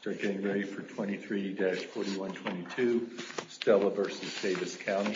Start getting ready for 23-4122 Stella v. Davis County.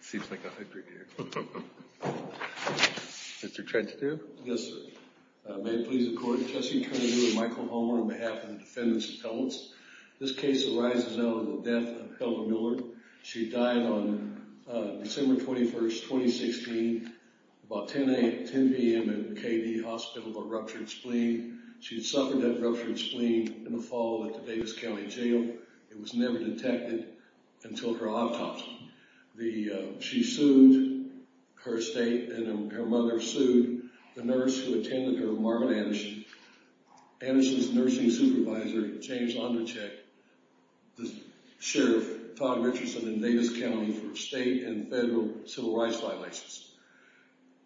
It seems like a hybrid here. Mr. Trent, too? Yes, sir. May it please the court, Trustee Kennedy and Michael Homer on behalf of the defendants' appellants. This case arises out of the death of Hilda Miller. She died on December 21st, 2016, about 10 p.m. in KD Hospital with a ruptured spleen. She suffered that ruptured spleen in the fall at the Davis County Jail. It was never detected until her autopsy. She sued her estate, and her mother sued the nurse who attended her, Marvin Anderson. Anderson's nursing supervisor, James Ondercheck, the sheriff, Todd Richardson in Davis County for state and federal civil rights violations.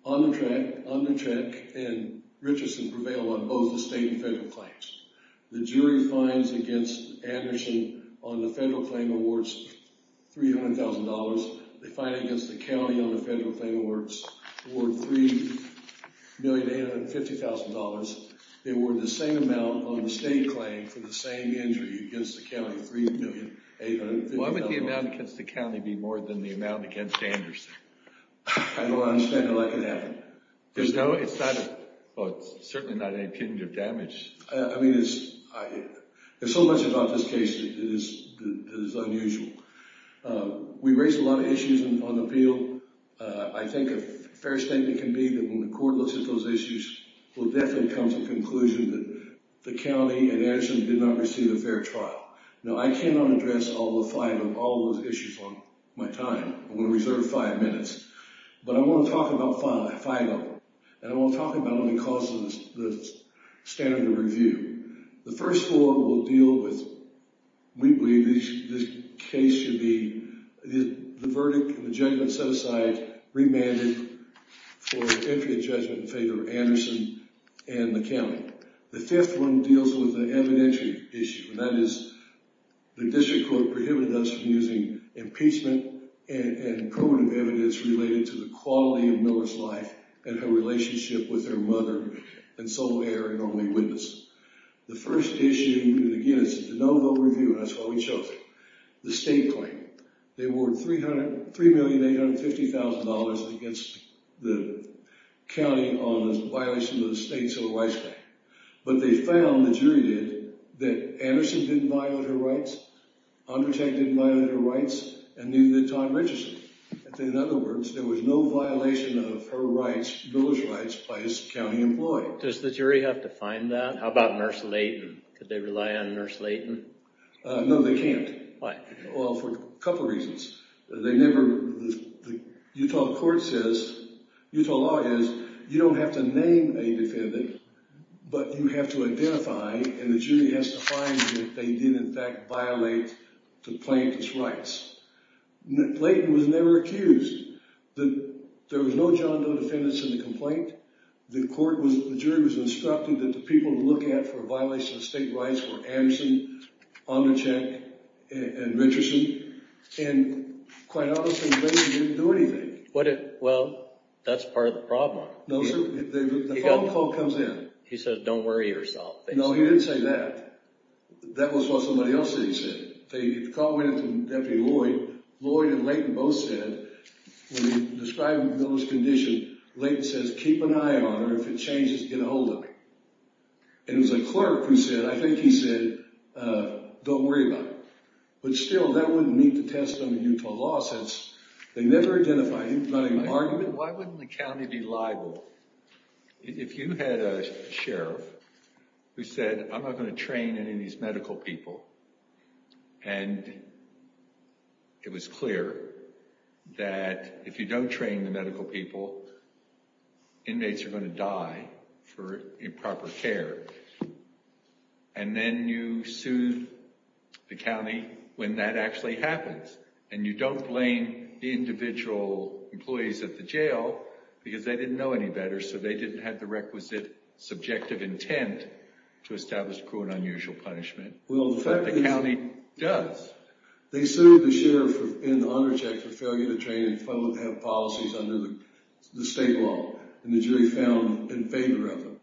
Ondercheck and Richardson prevail on both the state and federal claims. The jury finds against Anderson on the federal claim awards $300,000. They find against the county on the federal claim awards, award $3,850,000. They award the same amount on the state claim for the same injury against the county, $3,850,000. Why would the amount against the county be more than the amount against Anderson? I don't understand how that could happen. There's no, it's not, well, it's certainly not any kind of damage. I mean, there's so much about this case that is unusual. We raised a lot of issues on the field. I think a fair statement can be that when the court looks at those issues, it will definitely come to the conclusion that the county and Anderson did not receive a fair trial. Now, I cannot address all the five of all those issues on my time. I'm going to reserve five minutes. But I want to talk about five of them. And I want to talk about them because of the standard of review. The first four will deal with, we believe this case should be, the verdict and the judgment set aside, remanded for an infinite judgment in favor of Anderson and the county. The fifth one deals with an evidentiary issue. And that is the district court prohibited us from using impeachment and proven evidence related to the quality of Miller's life and her relationship with her mother and sole heir and only witness. The first issue, and again, it's a de novo review, and that's why we chose it, the state claim. They awarded $3,850,000 against the county on the violation of the state civil rights claim. But they found, the jury did, that Anderson didn't violate her rights, Andertag didn't violate her rights, and neither did Todd Richardson. In other words, there was no violation of her rights, Miller's rights, by his county employee. Does the jury have to find that? How about Nurse Layton? Could they rely on Nurse Layton? No, they can't. Why? Well, for a couple reasons. They never, the Utah court says, Utah law is, you don't have to name a defendant, but you have to identify, and the jury has to find that they did in fact violate the plaintiff's rights. Layton was never accused. There was no John Doe defendants in the complaint. The court was, the jury was instructed that the people to look at for a violation of state rights were Anderson, Andertag, and Richardson. And quite honestly, Layton didn't do anything. Well, that's part of the problem. The phone call comes in. He says, don't worry yourself. No, he didn't say that. That was what somebody else said. The call went in from Deputy Lloyd. Lloyd and Layton both said, when he described Miller's condition, Layton says, keep an eye on her. If it changes, get a hold of me. And it was a clerk who said, I think he said, don't worry about it. But still, that wouldn't meet the testimony of Utah law since they never identified him. He was not in an argument. Why wouldn't the county be liable if you had a sheriff who said, I'm not going to train any of these medical people. And it was clear that if you don't train the medical people, inmates are going to die for improper care. And then you sue the county when that actually happens. And you don't blame the individual employees at the jail because they didn't know any better, so they didn't have the requisite subjective intent to establish cruel and unusual punishment. But the county does. They sued the sheriff and the honor check for failure to train and have policies under the state law. And the jury found in favor of them.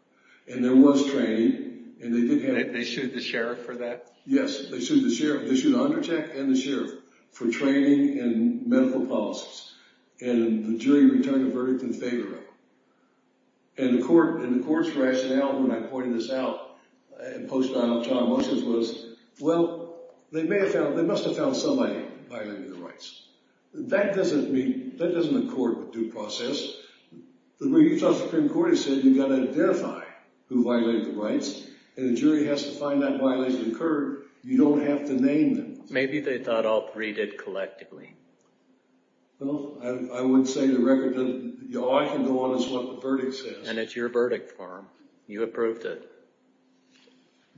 And there was training. They sued the sheriff for that? Yes, they sued the sheriff. They sued the honor check and the sheriff for training and medical policies. And the jury returned a verdict in favor of them. And the court's rationale when I pointed this out in post-trial trial motions was, well, they must have found somebody violating the rights. That doesn't mean that doesn't accord with due process. The Utah Supreme Court has said you've got to identify who violated the rights. And the jury has to find that violation occurred. You don't have to name them. Maybe they thought all three did collectively. Well, I would say the record that all I can go on is what the verdict says. And it's your verdict form. You approved it.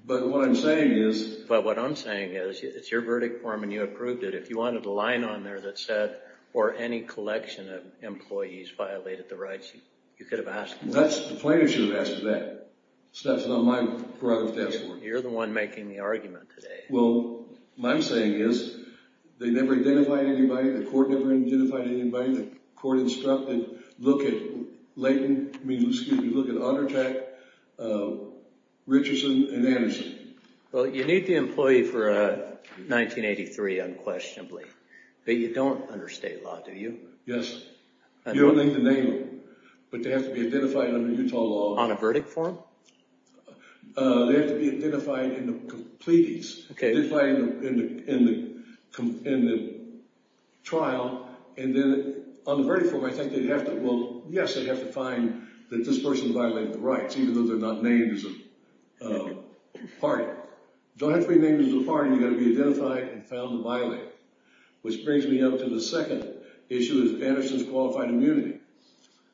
But what I'm saying is— But what I'm saying is it's your verdict form and you approved it. If you wanted a line on there that said, or any collection of employees violated the rights, you could have asked— That's—the plaintiff should have asked for that. So that's not my part of the task force. You're the one making the argument today. Well, what I'm saying is they never identified anybody. The court never identified anybody. The court instructed, look at Layton—I mean, excuse me. Look at Ottertack, Richardson, and Anderson. Well, you need the employee for 1983 unquestionably. But you don't under state law, do you? Yes. You don't need to name them. But they have to be identified under Utah law. On a verdict form? They have to be identified in the pleadings. Okay. Identified in the trial. And then on the verdict form, I think they'd have to— Well, yes, they'd have to find that this person violated the rights, even though they're not named as a party. You don't have to be named as a party. You've got to be identified and found to violate it. Which brings me up to the second issue of Anderson's qualified immunity.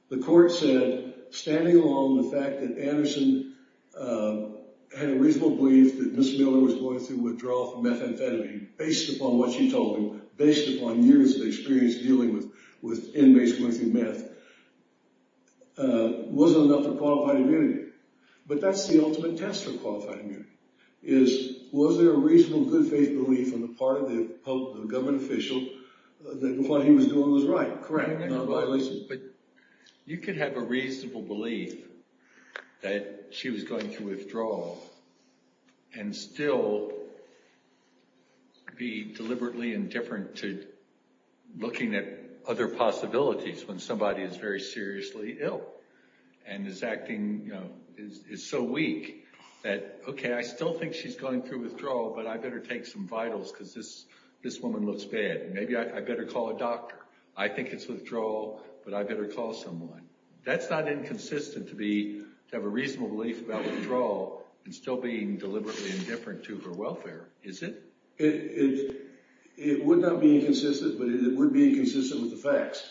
The court said, standing along the fact that Anderson had a reasonable belief that Ms. Miller was going through withdrawal from methamphetamine, based upon what she told him, based upon years of experience dealing with inmates going through meth, wasn't enough for qualified immunity. But that's the ultimate test for qualified immunity, is was there a reasonable good faith belief on the part of the government official that what he was doing was right? Correct. You could have a reasonable belief that she was going through withdrawal and still be deliberately indifferent to looking at other possibilities when somebody is very seriously ill and is acting—is so weak that, okay, I still think she's going through withdrawal, but I better take some vitals because this woman looks bad. Maybe I better call a doctor. I think it's withdrawal, but I better call someone. That's not inconsistent to have a reasonable belief about withdrawal and still being deliberately indifferent to her welfare, is it? It would not be inconsistent, but it would be inconsistent with the facts.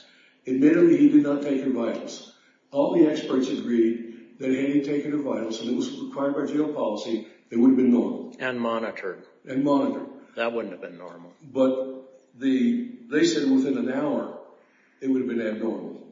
Admittedly, he did not take her vitals. All the experts agreed that if he had taken her vitals and it was required by jail policy, it would have been normal. And monitored. And monitored. That wouldn't have been normal. But they said within an hour it would have been abnormal.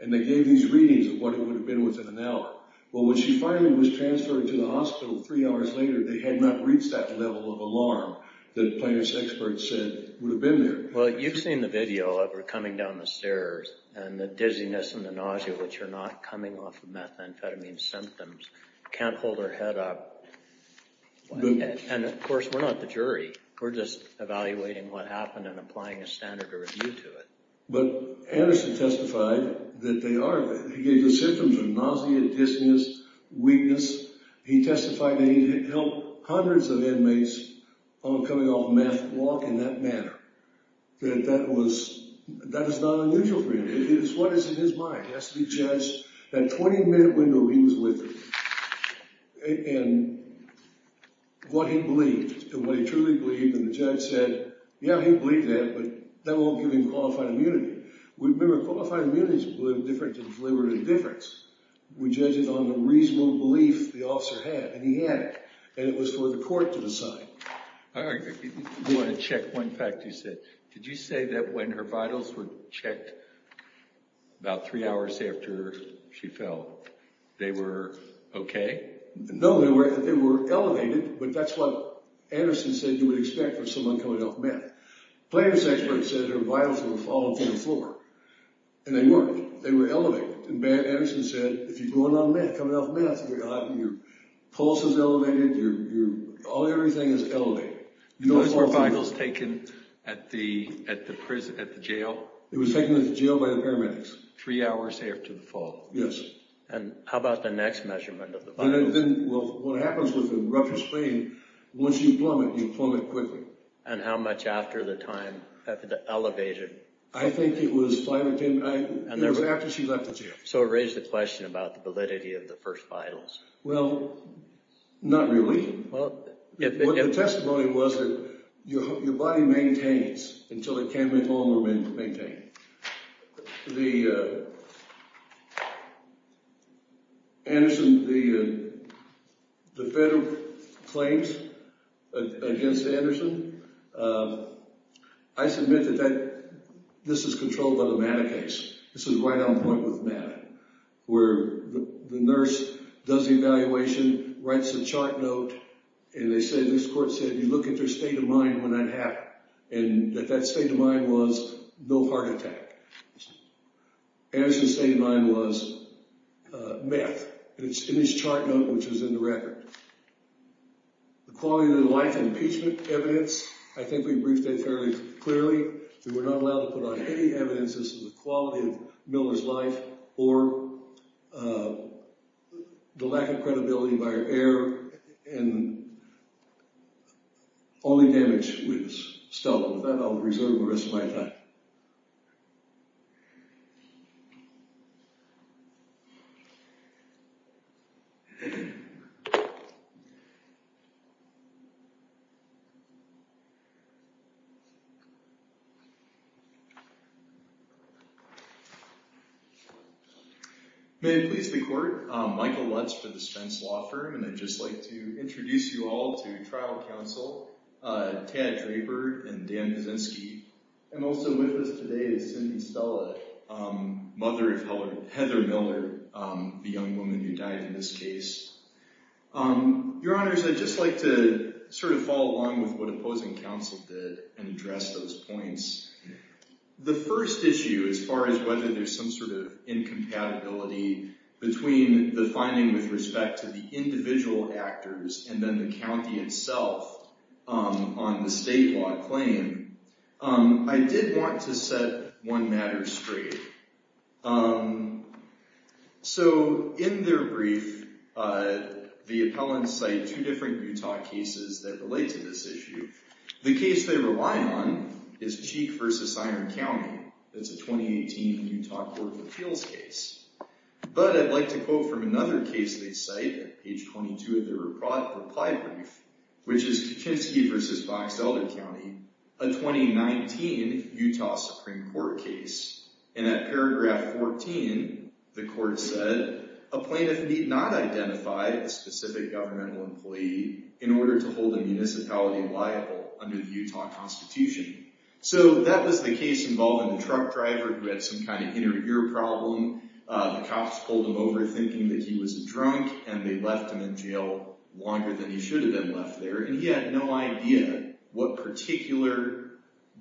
And they gave these readings of what it would have been within an hour. Well, when she finally was transferred to the hospital three hours later, they had not reached that level of alarm that plaintiff's experts said would have been there. Well, you've seen the video of her coming down the stairs and the dizziness and the nausea, which are not coming off of methamphetamine symptoms. Can't hold her head up. And, of course, we're not the jury. We're just evaluating what happened and applying a standard of review to it. But Anderson testified that they are. He gave the symptoms of nausea, dizziness, weakness. He testified that he had helped hundreds of inmates on a coming-off-meth walk in that manner. That that is not unusual for him. It is what is in his mind. It has to be judged. That 20-minute window he was with her and what he believed and what he truly believed. And the judge said, yeah, he believed that, but that won't give him qualified immunity. Remember, qualified immunity is different to deliberate indifference. We judge it on the reasonable belief the officer had. And he had it. And it was for the court to decide. I want to check one fact you said. Did you say that when her vitals were checked about three hours after she fell, they were okay? No, they were elevated. But that's what Anderson said you would expect from someone coming off meth. Plaintiff's experts said her vitals were falling from the floor. And they weren't. They were elevated. And Anderson said, if you're going on meth, coming off meth, your pulse is elevated, everything is elevated. Those were vitals taken at the jail? It was taken at the jail by the paramedics. Three hours after the fall? Yes. And how about the next measurement of the vitals? What happens with a ruptured spleen, once you plummet, you plummet quickly. And how much after the time, after the elevated? I think it was five or ten minutes after she left the jail. So it raised the question about the validity of the first vitals. Well, not really. The testimony was that your body maintains until it can't move on or maintain. Anderson, the federal claims against Anderson, I submit that this is controlled by the Maddox case. This is right on point with Maddox, where the nurse does the evaluation, writes a chart note, and they say, this court said, you look at their state of mind when that happened. And that that state of mind was no heart attack. Anderson's state of mind was meth, and it's in his chart note, which is in the record. The quality of the life and impeachment evidence, I think we briefed that fairly clearly. We were not allowed to put on any evidence as to the quality of Miller's life or the lack of credibility by her heir, and only damage was settled with that. I'll reserve the rest of my time. May it please the court, Michael Lutz for the Spence Law Firm, and I'd just like to introduce you all to trial counsel, Tad Draper and Dan Vizinski. And also with us today is Cindy Stella, mother of Heather Miller, the young woman who died in this case. Your honors, I'd just like to sort of follow along with what opposing counsel did and address those points. The first issue as far as whether there's some sort of incompatibility between the finding with respect to the individual actors and then the county itself on the state law claim, I did want to set one matter straight. So in their brief, the appellants cite two different Utah cases that relate to this issue. The case they rely on is Cheek v. Iron County. That's a 2018 Utah Court of Appeals case. But I'd like to quote from another case they cite at page 22 of their reply brief, which is Kaczynski v. Fox-Elder County, a 2019 Utah Supreme Court case. And at paragraph 14, the court said, a plaintiff need not identify a specific governmental employee in order to hold a municipality liable under the Utah Constitution. So that was the case involving a truck driver who had some kind of inner ear problem. The cops pulled him over thinking that he was a drunk, and they left him in jail longer than he should have been left there. And he had no idea what particular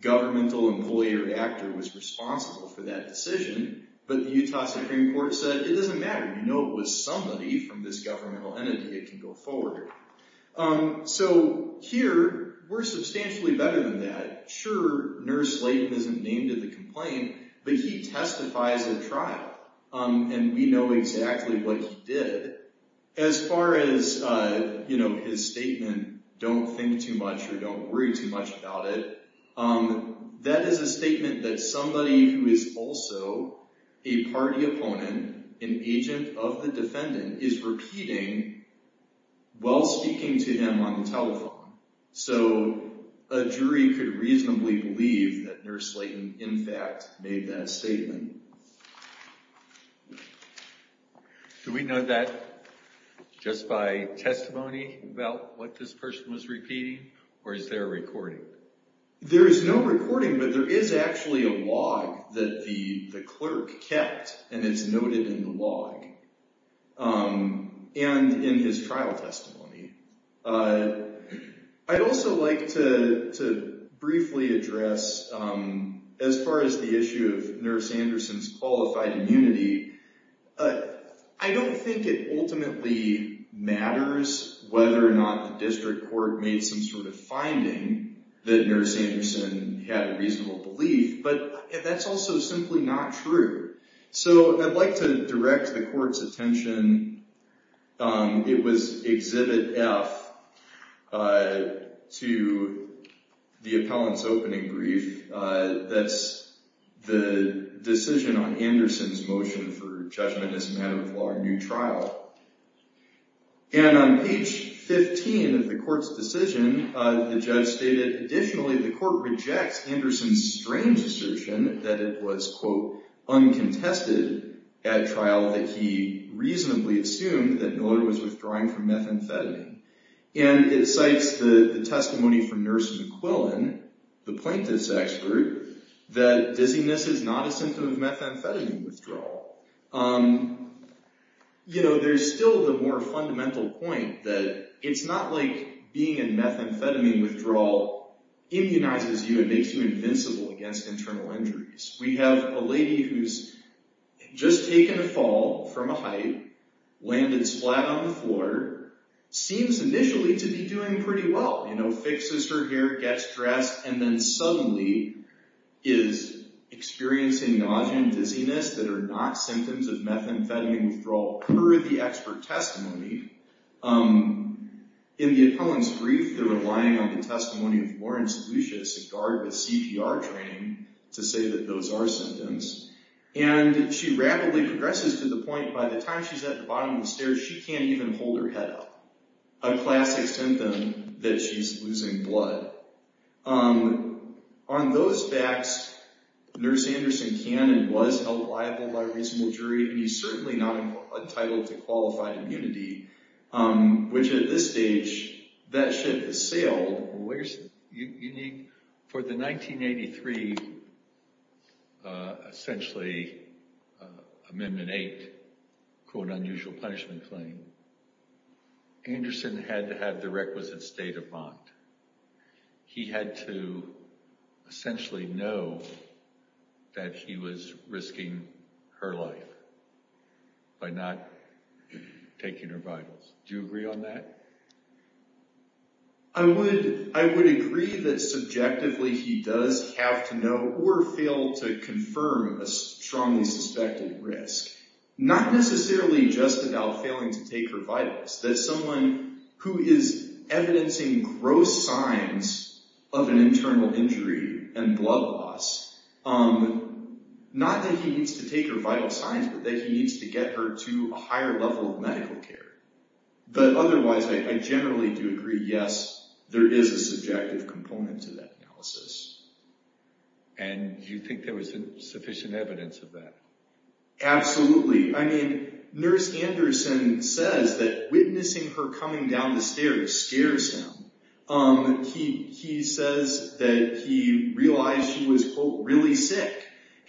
governmental employee or actor was responsible for that decision. But the Utah Supreme Court said, it doesn't matter. You know it was somebody from this governmental entity that can go forward. So here, we're substantially better than that. Sure, Nurse Layton isn't named in the complaint. But he testifies at trial. And we know exactly what he did. As far as his statement, don't think too much or don't worry too much about it. That is a statement that somebody who is also a party opponent, an agent of the defendant, is repeating while speaking to him on the telephone. So a jury could reasonably believe that Nurse Layton, in fact, made that statement. Do we know that just by testimony about what this person was repeating, or is there a recording? There is no recording, but there is actually a log that the clerk kept, and it's noted in the log and in his trial testimony. I'd also like to briefly address, as far as the issue of Nurse Anderson's qualified immunity, I don't think it ultimately matters whether or not the district court made some sort of finding that Nurse Anderson had a reasonable belief. But that's also simply not true. So I'd like to direct the court's attention. It was Exhibit F to the appellant's opening brief. That's the decision on Anderson's motion for judgment as a matter of law in a new trial. And on page 15 of the court's decision, the judge stated, additionally, the court rejects Anderson's strange assertion that it was, quote, uncontested at trial, that he reasonably assumed that Miller was withdrawing from methamphetamine. And it cites the testimony from Nurse McQuillan, the plaintiff's expert, that dizziness is not a symptom of methamphetamine withdrawal. You know, there's still the more fundamental point that it's not like being in methamphetamine withdrawal immunizes you and makes you invincible against internal injuries. We have a lady who's just taken a fall from a height, landed splat on the floor, seems initially to be doing pretty well, you know, fixes her hair, gets dressed, and then suddenly is experiencing nausea and dizziness that are not symptoms of methamphetamine withdrawal, per the expert testimony. In the appellant's brief, they're relying on the testimony of Lawrence Lucius, a guard with CPR training, to say that those are symptoms. And she rapidly progresses to the point by the time she's at the bottom of the stairs, she can't even hold her head up, a classic symptom that she's losing blood. On those facts, Nurse Anderson can and was held liable by a reasonable jury, and he's certainly not entitled to qualified immunity, which at this stage, that ship has sailed. For the 1983, essentially, Amendment 8, quote, unusual punishment claim, Anderson had to have the requisite state of mind. He had to essentially know that he was risking her life by not taking her vitals. Do you agree on that? I would agree that subjectively he does have to know or fail to confirm a strongly suspected risk. Not necessarily just about failing to take her vitals. As someone who is evidencing gross signs of an internal injury and blood loss, not that he needs to take her vital signs, but that he needs to get her to a higher level of medical care. But otherwise, I generally do agree, yes, there is a subjective component to that analysis. And you think there was sufficient evidence of that? Absolutely. I mean, Nurse Anderson says that witnessing her coming down the stairs scares him. He says that he realized she was, quote, really sick.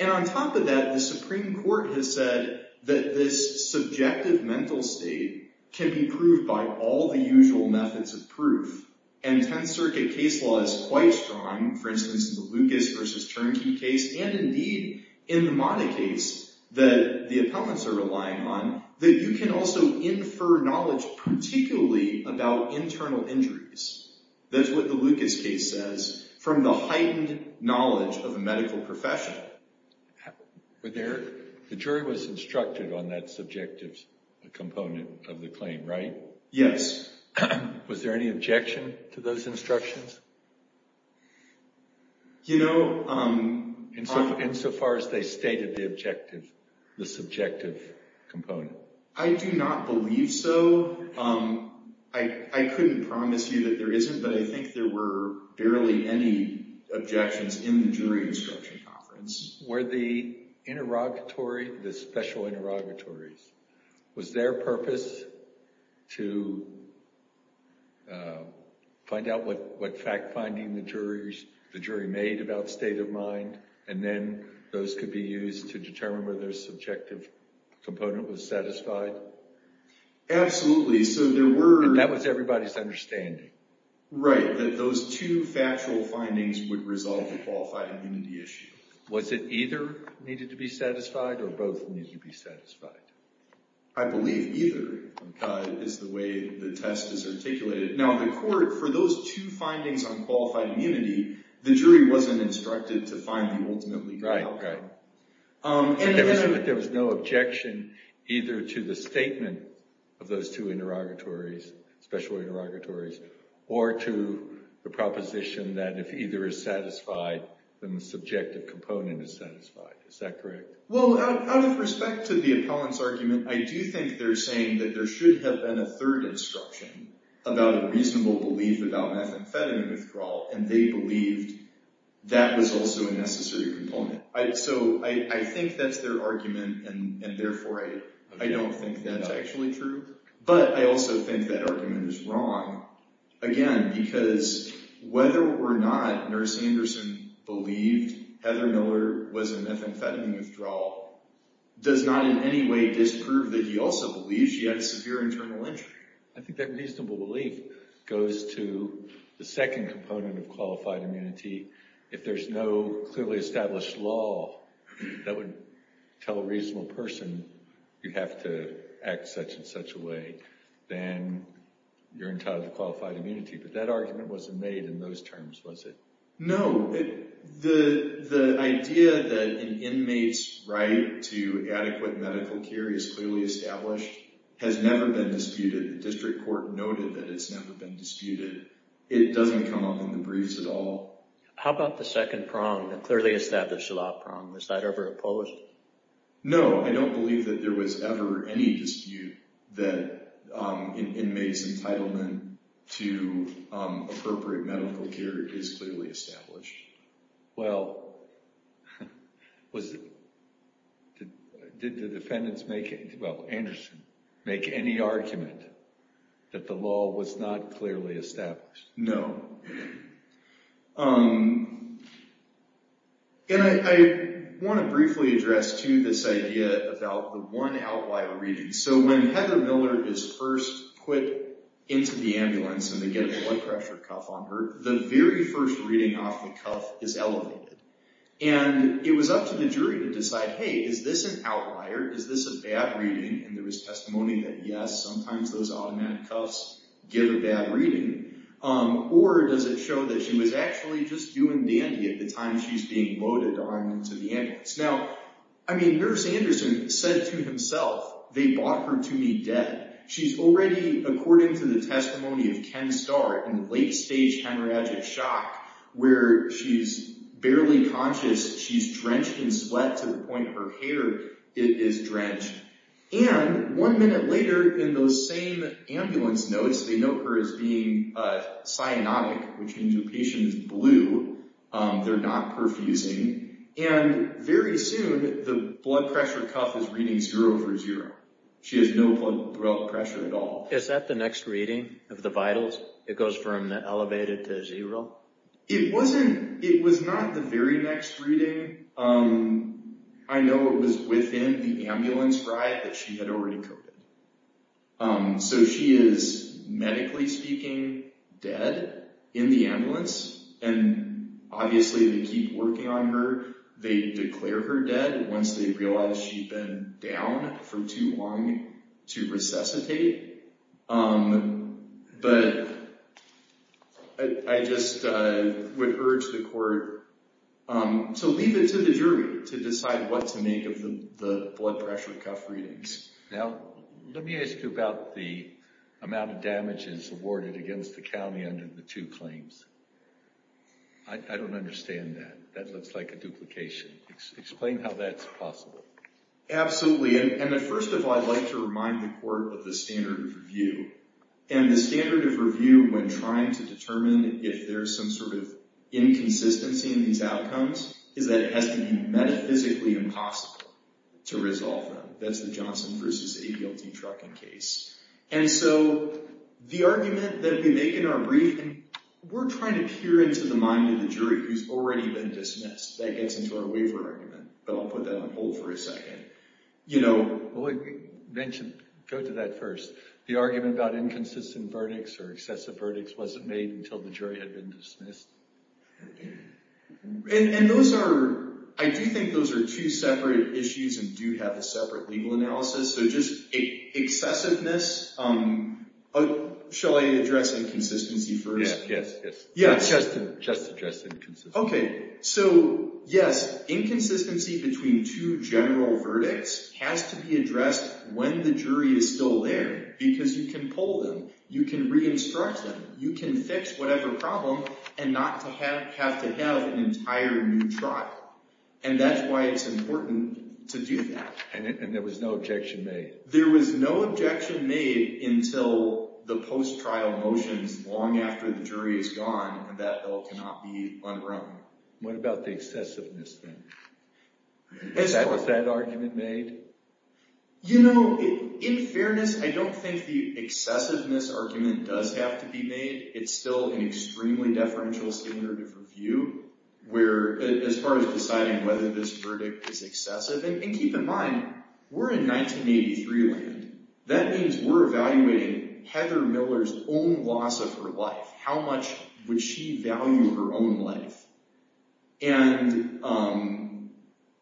And on top of that, the Supreme Court has said that this subjective mental state can be proved by all the usual methods of proof. And Tenth Circuit case law is quite strong, for instance, in the Lucas versus Chernky case. And indeed, in the Mata case that the appellants are relying on, that you can also infer knowledge particularly about internal injuries. That's what the Lucas case says, from the heightened knowledge of a medical professional. The jury was instructed on that subjective component of the claim, right? Yes. Was there any objection to those instructions? You know... Insofar as they stated the objective, the subjective component. I do not believe so. I couldn't promise you that there isn't, but I think there were barely any objections in the jury instruction conference. Were the interrogatory, the special interrogatories, was their purpose to find out what fact-finding the jury made about state of mind, and then those could be used to determine whether a subjective component was satisfied? Absolutely. So there were... And that was everybody's understanding? Right, that those two factual findings would resolve the qualified immunity issue. Was it either needed to be satisfied, or both needed to be satisfied? I believe either is the way the test is articulated. Now, in the court, for those two findings on qualified immunity, the jury wasn't instructed to find the ultimate legal outcome. There was no objection either to the statement of those two interrogatories, special interrogatories, or to the proposition that if either is satisfied, then the subjective component is satisfied. Is that correct? Well, out of respect to the appellant's argument, I do think they're saying that there should have been a third instruction about a reasonable belief about methamphetamine withdrawal, and they believed that was also a necessary component. So I think that's their argument, and therefore I don't think that's actually true. But I also think that argument is wrong, again, because whether or not Nurse Anderson believed Heather Miller was a methamphetamine withdrawal does not in any way disprove that he also believes she had severe internal injury. I think that reasonable belief goes to the second component of qualified immunity. If there's no clearly established law that would tell a reasonable person you have to act such and such a way, then you're entitled to qualified immunity. But that argument wasn't made in those terms, was it? No. The idea that an inmate's right to adequate medical care is clearly established has never been disputed. The district court noted that it's never been disputed. It doesn't come up in the briefs at all. How about the second prong, the clearly established law prong? Was that ever opposed? No. I don't believe that there was ever any dispute that an inmate's entitlement to appropriate medical care is clearly established. Well, did the defendants make any argument that the law was not clearly established? No. And I want to briefly address, too, this idea about the one outlier reading. So when Heather Miller is first put into the ambulance and they get a blood pressure cuff on her, the very first reading off the cuff is elevated. And it was up to the jury to decide, hey, is this an outlier? Is this a bad reading? And there was testimony that, yes, sometimes those automatic cuffs give a bad reading. Or does it show that she was actually just doing dandy at the time she's being loaded onto the ambulance? Now, I mean, Nurse Anderson said to himself, they bought her to me dead. She's already, according to the testimony of Ken Starr, in late-stage hemorrhagic shock, where she's barely conscious. She's drenched in sweat to the point her hair is drenched. And one minute later, in those same ambulance notes, they note her as being cyanotic, which means her patient is blue. They're not perfusing. And very soon, the blood pressure cuff is reading zero for zero. She has no blood pressure at all. Is that the next reading of the vitals? It goes from elevated to zero? It wasn't. It was not the very next reading. I know it was within the ambulance ride that she had already coded. So she is, medically speaking, dead in the ambulance. And obviously, they keep working on her. They declare her dead once they realize she'd been down for too long to resuscitate. But I just would urge the court to leave it to the jury to decide what to make of the blood pressure cuff readings. Now, let me ask you about the amount of damages awarded against the county under the two claims. I don't understand that. That looks like a duplication. Explain how that's possible. Absolutely. And first of all, I'd like to remind the court of the standard of review. And the standard of review when trying to determine if there's some sort of inconsistency in these outcomes is that it has to be metaphysically impossible to resolve them. That's the Johnson v. AGLT trucking case. And so, the argument that we make in our brief— we're trying to peer into the mind of the jury who's already been dismissed. That gets into our waiver argument, but I'll put that on hold for a second. You know— Go to that first. The argument about inconsistent verdicts or excessive verdicts wasn't made until the jury had been dismissed. And those are—I do think those are two separate issues and do have a separate legal analysis. So, just excessiveness—shall I address inconsistency first? Yes. Just address inconsistency. Okay. So, yes. Inconsistency between two general verdicts has to be addressed when the jury is still there because you can pull them. You can re-instruct them. You can fix whatever problem and not have to have an entire new trial. And that's why it's important to do that. And there was no objection made. There was no objection made until the post-trial motions long after the jury is gone and that bill cannot be unwrung. What about the excessiveness thing? Was that argument made? You know, in fairness, I don't think the excessiveness argument does have to be made. It's still an extremely deferential standard of review where—as far as deciding whether this verdict is excessive. And keep in mind, we're in 1983 land. That means we're evaluating Heather Miller's own loss of her life. How much would she value her own life? And,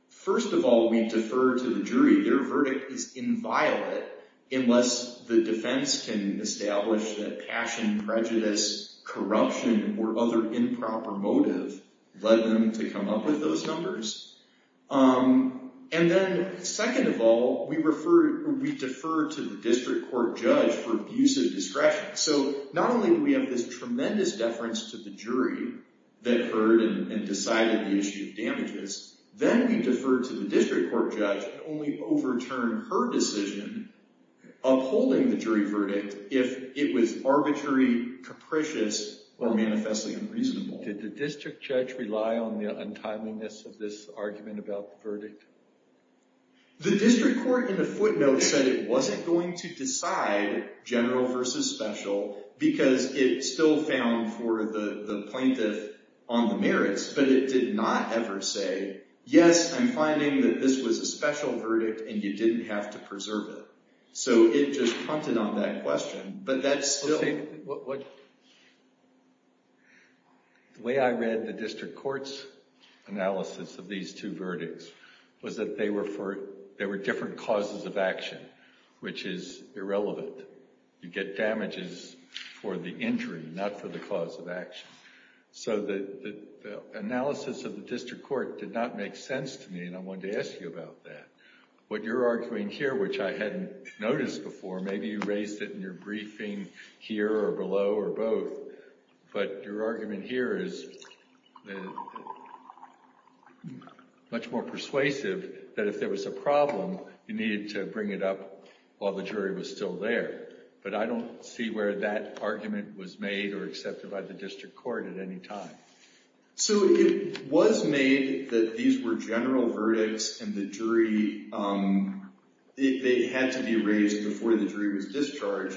first of all, we defer to the jury. Their verdict is inviolate unless the defense can establish that passion, prejudice, corruption, or other improper motive led them to come up with those numbers. And then, second of all, we defer to the district court judge for abuse of discretion. So, not only do we have this tremendous deference to the jury that heard and decided the issue of damages, then we defer to the district court judge and only overturn her decision upholding the jury verdict if it was arbitrary, capricious, or manifestly unreasonable. Did the district judge rely on the untimeliness of this argument about the verdict? The district court, in a footnote, said it wasn't going to decide general versus special because it still found for the plaintiff on the merits, but it did not ever say, yes, I'm finding that this was a special verdict and you didn't have to preserve it. So, it just hunted on that question, but that's still— The way I read the district court's analysis of these two verdicts was that they were different causes of action, which is irrelevant. You get damages for the injury, not for the cause of action. So, the analysis of the district court did not make sense to me, and I wanted to ask you about that. What you're arguing here, which I hadn't noticed before, maybe you raised it in your briefing here or below or both, but your argument here is much more persuasive that if there was a problem, you needed to bring it up while the jury was still there. But I don't see where that argument was made or accepted by the district court at any time. So, it was made that these were general verdicts and the jury— they had to be raised before the jury was discharged.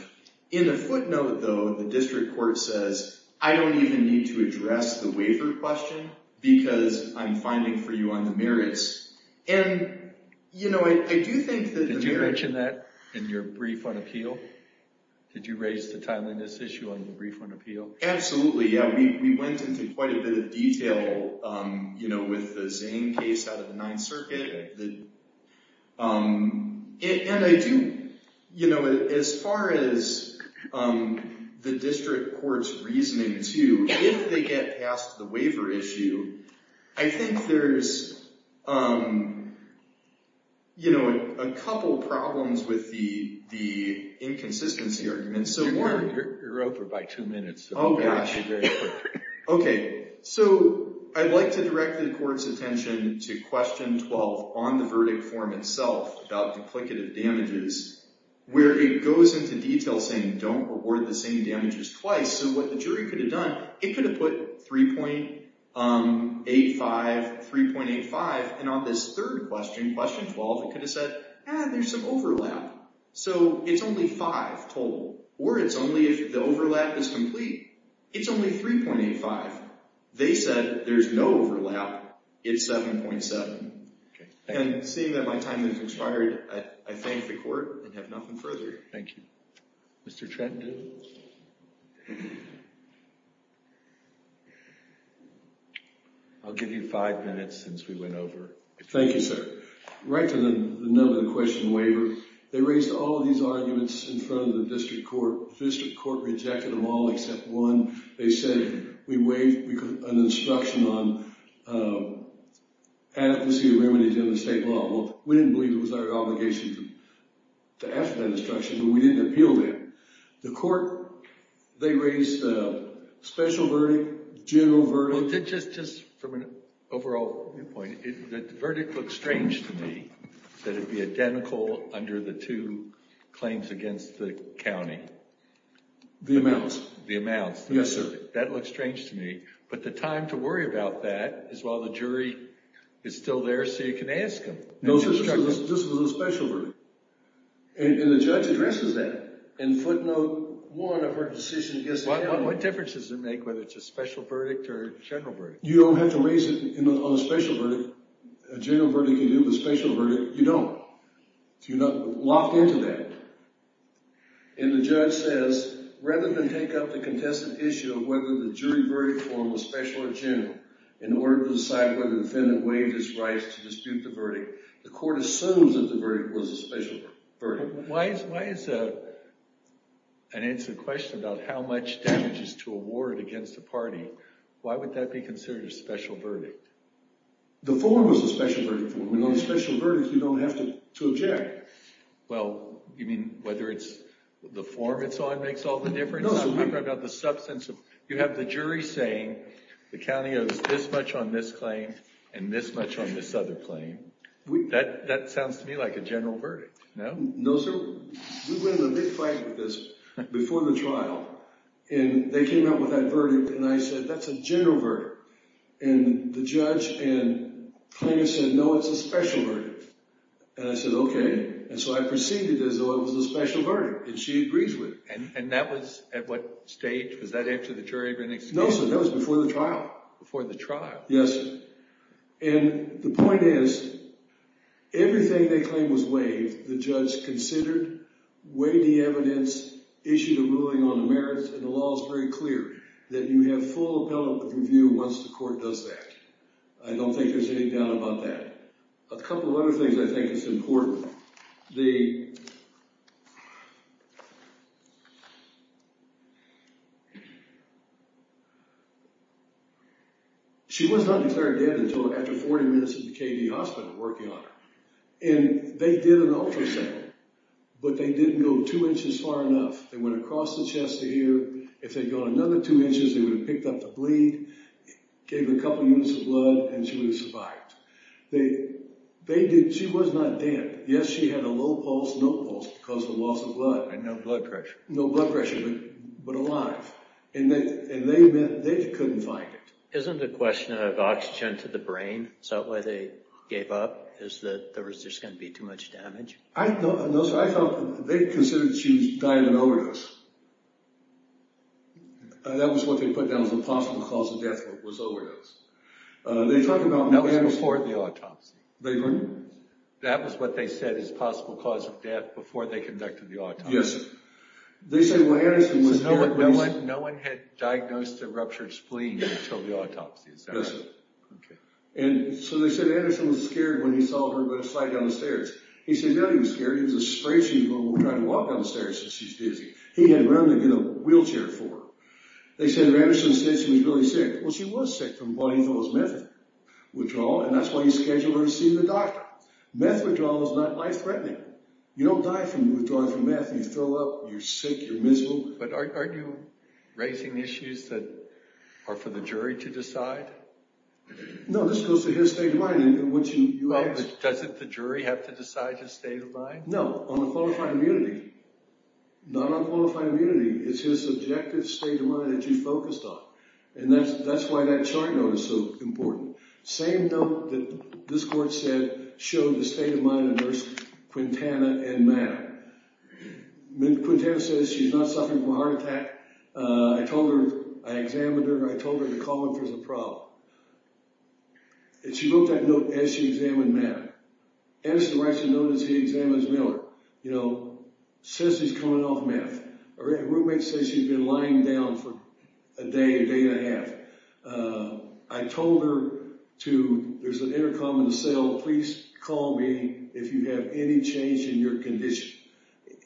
In the footnote, though, the district court says, I don't even need to address the waiver question because I'm finding for you on the merits. And, you know, I do think that the merits— Did you mention that in your brief on appeal? Did you raise the timeliness issue on the brief on appeal? Absolutely, yeah. We went into quite a bit of detail, you know, with the Zane case out of the Ninth Circuit. And I do, you know, as far as the district court's reasoning, too, if they get past the waiver issue, I think there's, you know, a couple problems with the inconsistency argument. You're over by two minutes. Oh, gosh. Okay. So, I'd like to direct the court's attention to question 12 on the verdict form itself about duplicative damages, where it goes into detail saying, don't reward the same damages twice. So, what the jury could have done, it could have put 3.85, 3.85, and on this third question, question 12, it could have said, ah, there's some overlap. So, it's only five total, or it's only if the overlap is complete. It's only 3.85. They said there's no overlap. It's 7.7. Okay. And seeing that my time has expired, I thank the court and have nothing further. Thank you. Mr. Trenton? I'll give you five minutes since we went over. Thank you, sir. So, right to the nub of the question waiver, they raised all of these arguments in front of the district court. The district court rejected them all except one. They said we waived an instruction on advocacy of remedies in the state law. Well, we didn't believe it was our obligation to ask for that instruction, but we didn't appeal that. The court, they raised a special verdict, general verdict. Well, just from an overall viewpoint, the verdict looks strange to me, that it be identical under the two claims against the county. The amounts. The amounts. Yes, sir. That looks strange to me. But the time to worry about that is while the jury is still there, so you can ask them. No, this was a special verdict. And the judge addresses that in footnote one of her decision against the county. What difference does it make whether it's a special verdict or a general verdict? You don't have to raise it on a special verdict. A general verdict can do with a special verdict. You don't. You're not locked into that. And the judge says, rather than take up the contested issue of whether the jury verdict form was special or general in order to decide whether the defendant waived his rights to dispute the verdict, the court assumes that the verdict was a special verdict. Why is an instant question about how much damage is to a ward against a party, why would that be considered a special verdict? The form was a special verdict. On a special verdict, you don't have to object. Well, you mean whether it's the form it's on makes all the difference? No, sir. I'm talking about the substance. You have the jury saying the county owes this much on this claim and this much on this other claim. That sounds to me like a general verdict. No, sir. We went into a big fight with this before the trial. And they came out with that verdict, and I said, that's a general verdict. And the judge and claimant said, no, it's a special verdict. And I said, okay. And so I proceeded as though it was a special verdict. And she agrees with me. And that was at what stage? Was that after the jury had been excused? No, sir. That was before the trial. Before the trial? Yes, sir. And the point is, everything they claimed was waived, the judge considered, weighed the evidence, issued a ruling on the merits. And the law is very clear that you have full appellate review once the court does that. I don't think there's any doubt about that. A couple of other things I think is important. First of all, the – she was not declared dead until after 40 minutes at the KD hospital working on her. And they did an ultrasound, but they didn't go two inches far enough. They went across the chest to here. If they'd gone another two inches, they would have picked up the bleed, gave her a couple units of blood, and she would have survived. She was not dead. Yes, she had a low pulse, no pulse because of the loss of blood. And no blood pressure. No blood pressure, but alive. And they couldn't find it. Isn't the question of oxygen to the brain? Is that why they gave up? Is that there was just going to be too much damage? No, sir. They considered she was dying of an overdose. That was what they put down as a possible cause of death, was overdose. That was before the autopsy. That was what they said as a possible cause of death before they conducted the autopsy. Yes, sir. They said – No one had diagnosed a ruptured spleen until the autopsy, is that right? Yes, sir. Okay. And so they said Anderson was scared when he saw her slide down the stairs. He said, no, he was scared. It was a spray she'd been trying to walk down the stairs since she's dizzy. He had run to get a wheelchair for her. They said, Anderson said she was really sick. Well, she was sick from what he thought was meth withdrawal, and that's why he scheduled her to see the doctor. Meth withdrawal is not life-threatening. You don't die from withdrawing from meth. You throw up. You're sick. You're miserable. But aren't you raising issues that are for the jury to decide? No, this goes to his state of mind. Doesn't the jury have to decide his state of mind? No, on a qualified immunity. Not on qualified immunity. It's his subjective state of mind that you focused on. And that's why that chart note is so important. Same note that this court said showed the state of mind of Nurse Quintana and Matt. Quintana says she's not suffering from a heart attack. I told her, I examined her, and I told her to call if there's a problem. And she wrote that note as she examined Matt. Anderson writes the note as he examines Miller. You know, says he's coming off meth. A roommate says she's been lying down for a day, a day and a half. I told her to, there's an intercom in the cell, please call me if you have any change in your condition.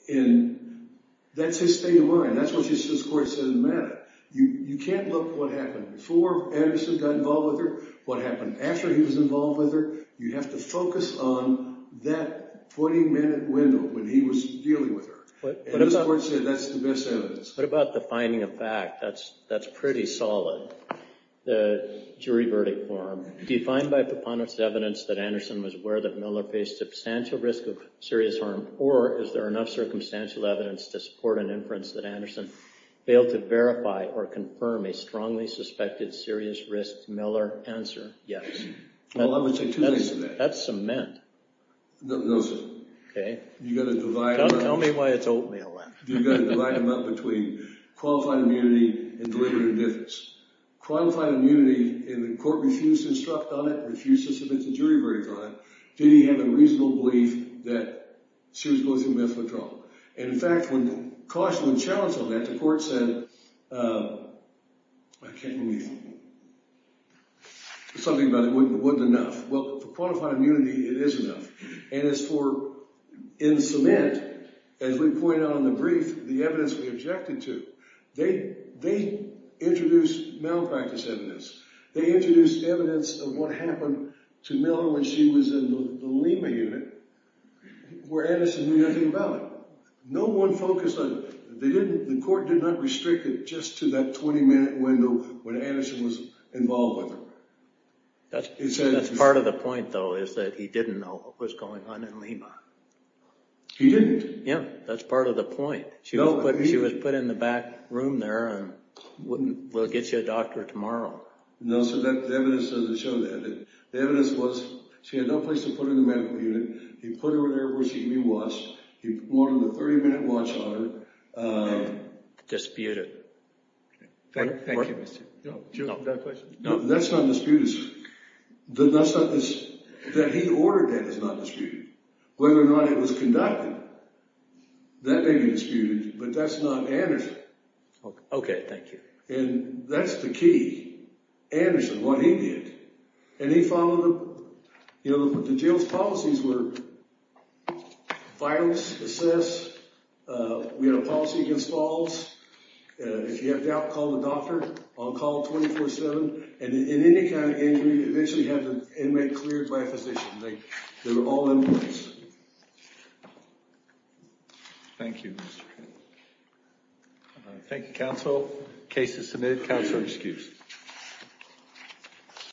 And that's his state of mind. That's what this court said in the matter. You can't look at what happened before Anderson got involved with her, what happened after he was involved with her. You have to focus on that 20-minute window when he was dealing with her. And this court said that's the best evidence. What about the finding of fact? That's pretty solid, the jury verdict form. Defined by preponderance of evidence that Anderson was aware that Miller faced substantial risk of serious harm, or is there enough circumstantial evidence to support an inference that Anderson failed to verify or confirm a strongly suspected serious risk? Miller, answer, yes. Well, I'm going to take two days for that. That's cement. No, sir. Okay. Tell me why it's oatmeal then. You've got to divide them up between qualified immunity and deliberate indifference. Qualified immunity, and the court refused to instruct on it, refused to submit the jury verdict on it, did he have a reasonable belief that she was going to go through meth withdrawal? And, in fact, when cautioned and challenged on that, the court said, I can't believe you. Something about it wouldn't enough. Well, for qualified immunity, it is enough. And as for in cement, as we pointed out in the brief, the evidence we objected to, they introduced malpractice evidence. They introduced evidence of what happened to Miller when she was in the Lima unit where Anderson knew nothing about it. No one focused on it. The court did not restrict it just to that 20-minute window when Anderson was involved with her. That's part of the point, though, is that he didn't know what was going on in Lima. He didn't? Yeah. That's part of the point. She was put in the back room there and we'll get you a doctor tomorrow. No, sir. The evidence doesn't show that. The evidence was she had no place to put her in the medical unit. He put her in there where she can be watched. He wanted a 30-minute watch on her. Disputed. Thank you, Mr. No, that's not disputed, sir. That he ordered that is not disputed. Whether or not it was conducted, that may be disputed, but that's not Anderson. Okay, thank you. And that's the key, Anderson, what he did. And he followed the jail's policies were violence, assess. We had a policy against falls. If you have doubt, call the doctor. I'll call 24-7. And in any kind of injury, eventually have the inmate cleared by a physician. They were all in place. Thank you, Mr. Thank you, counsel. Case is submitted. Counsel excused.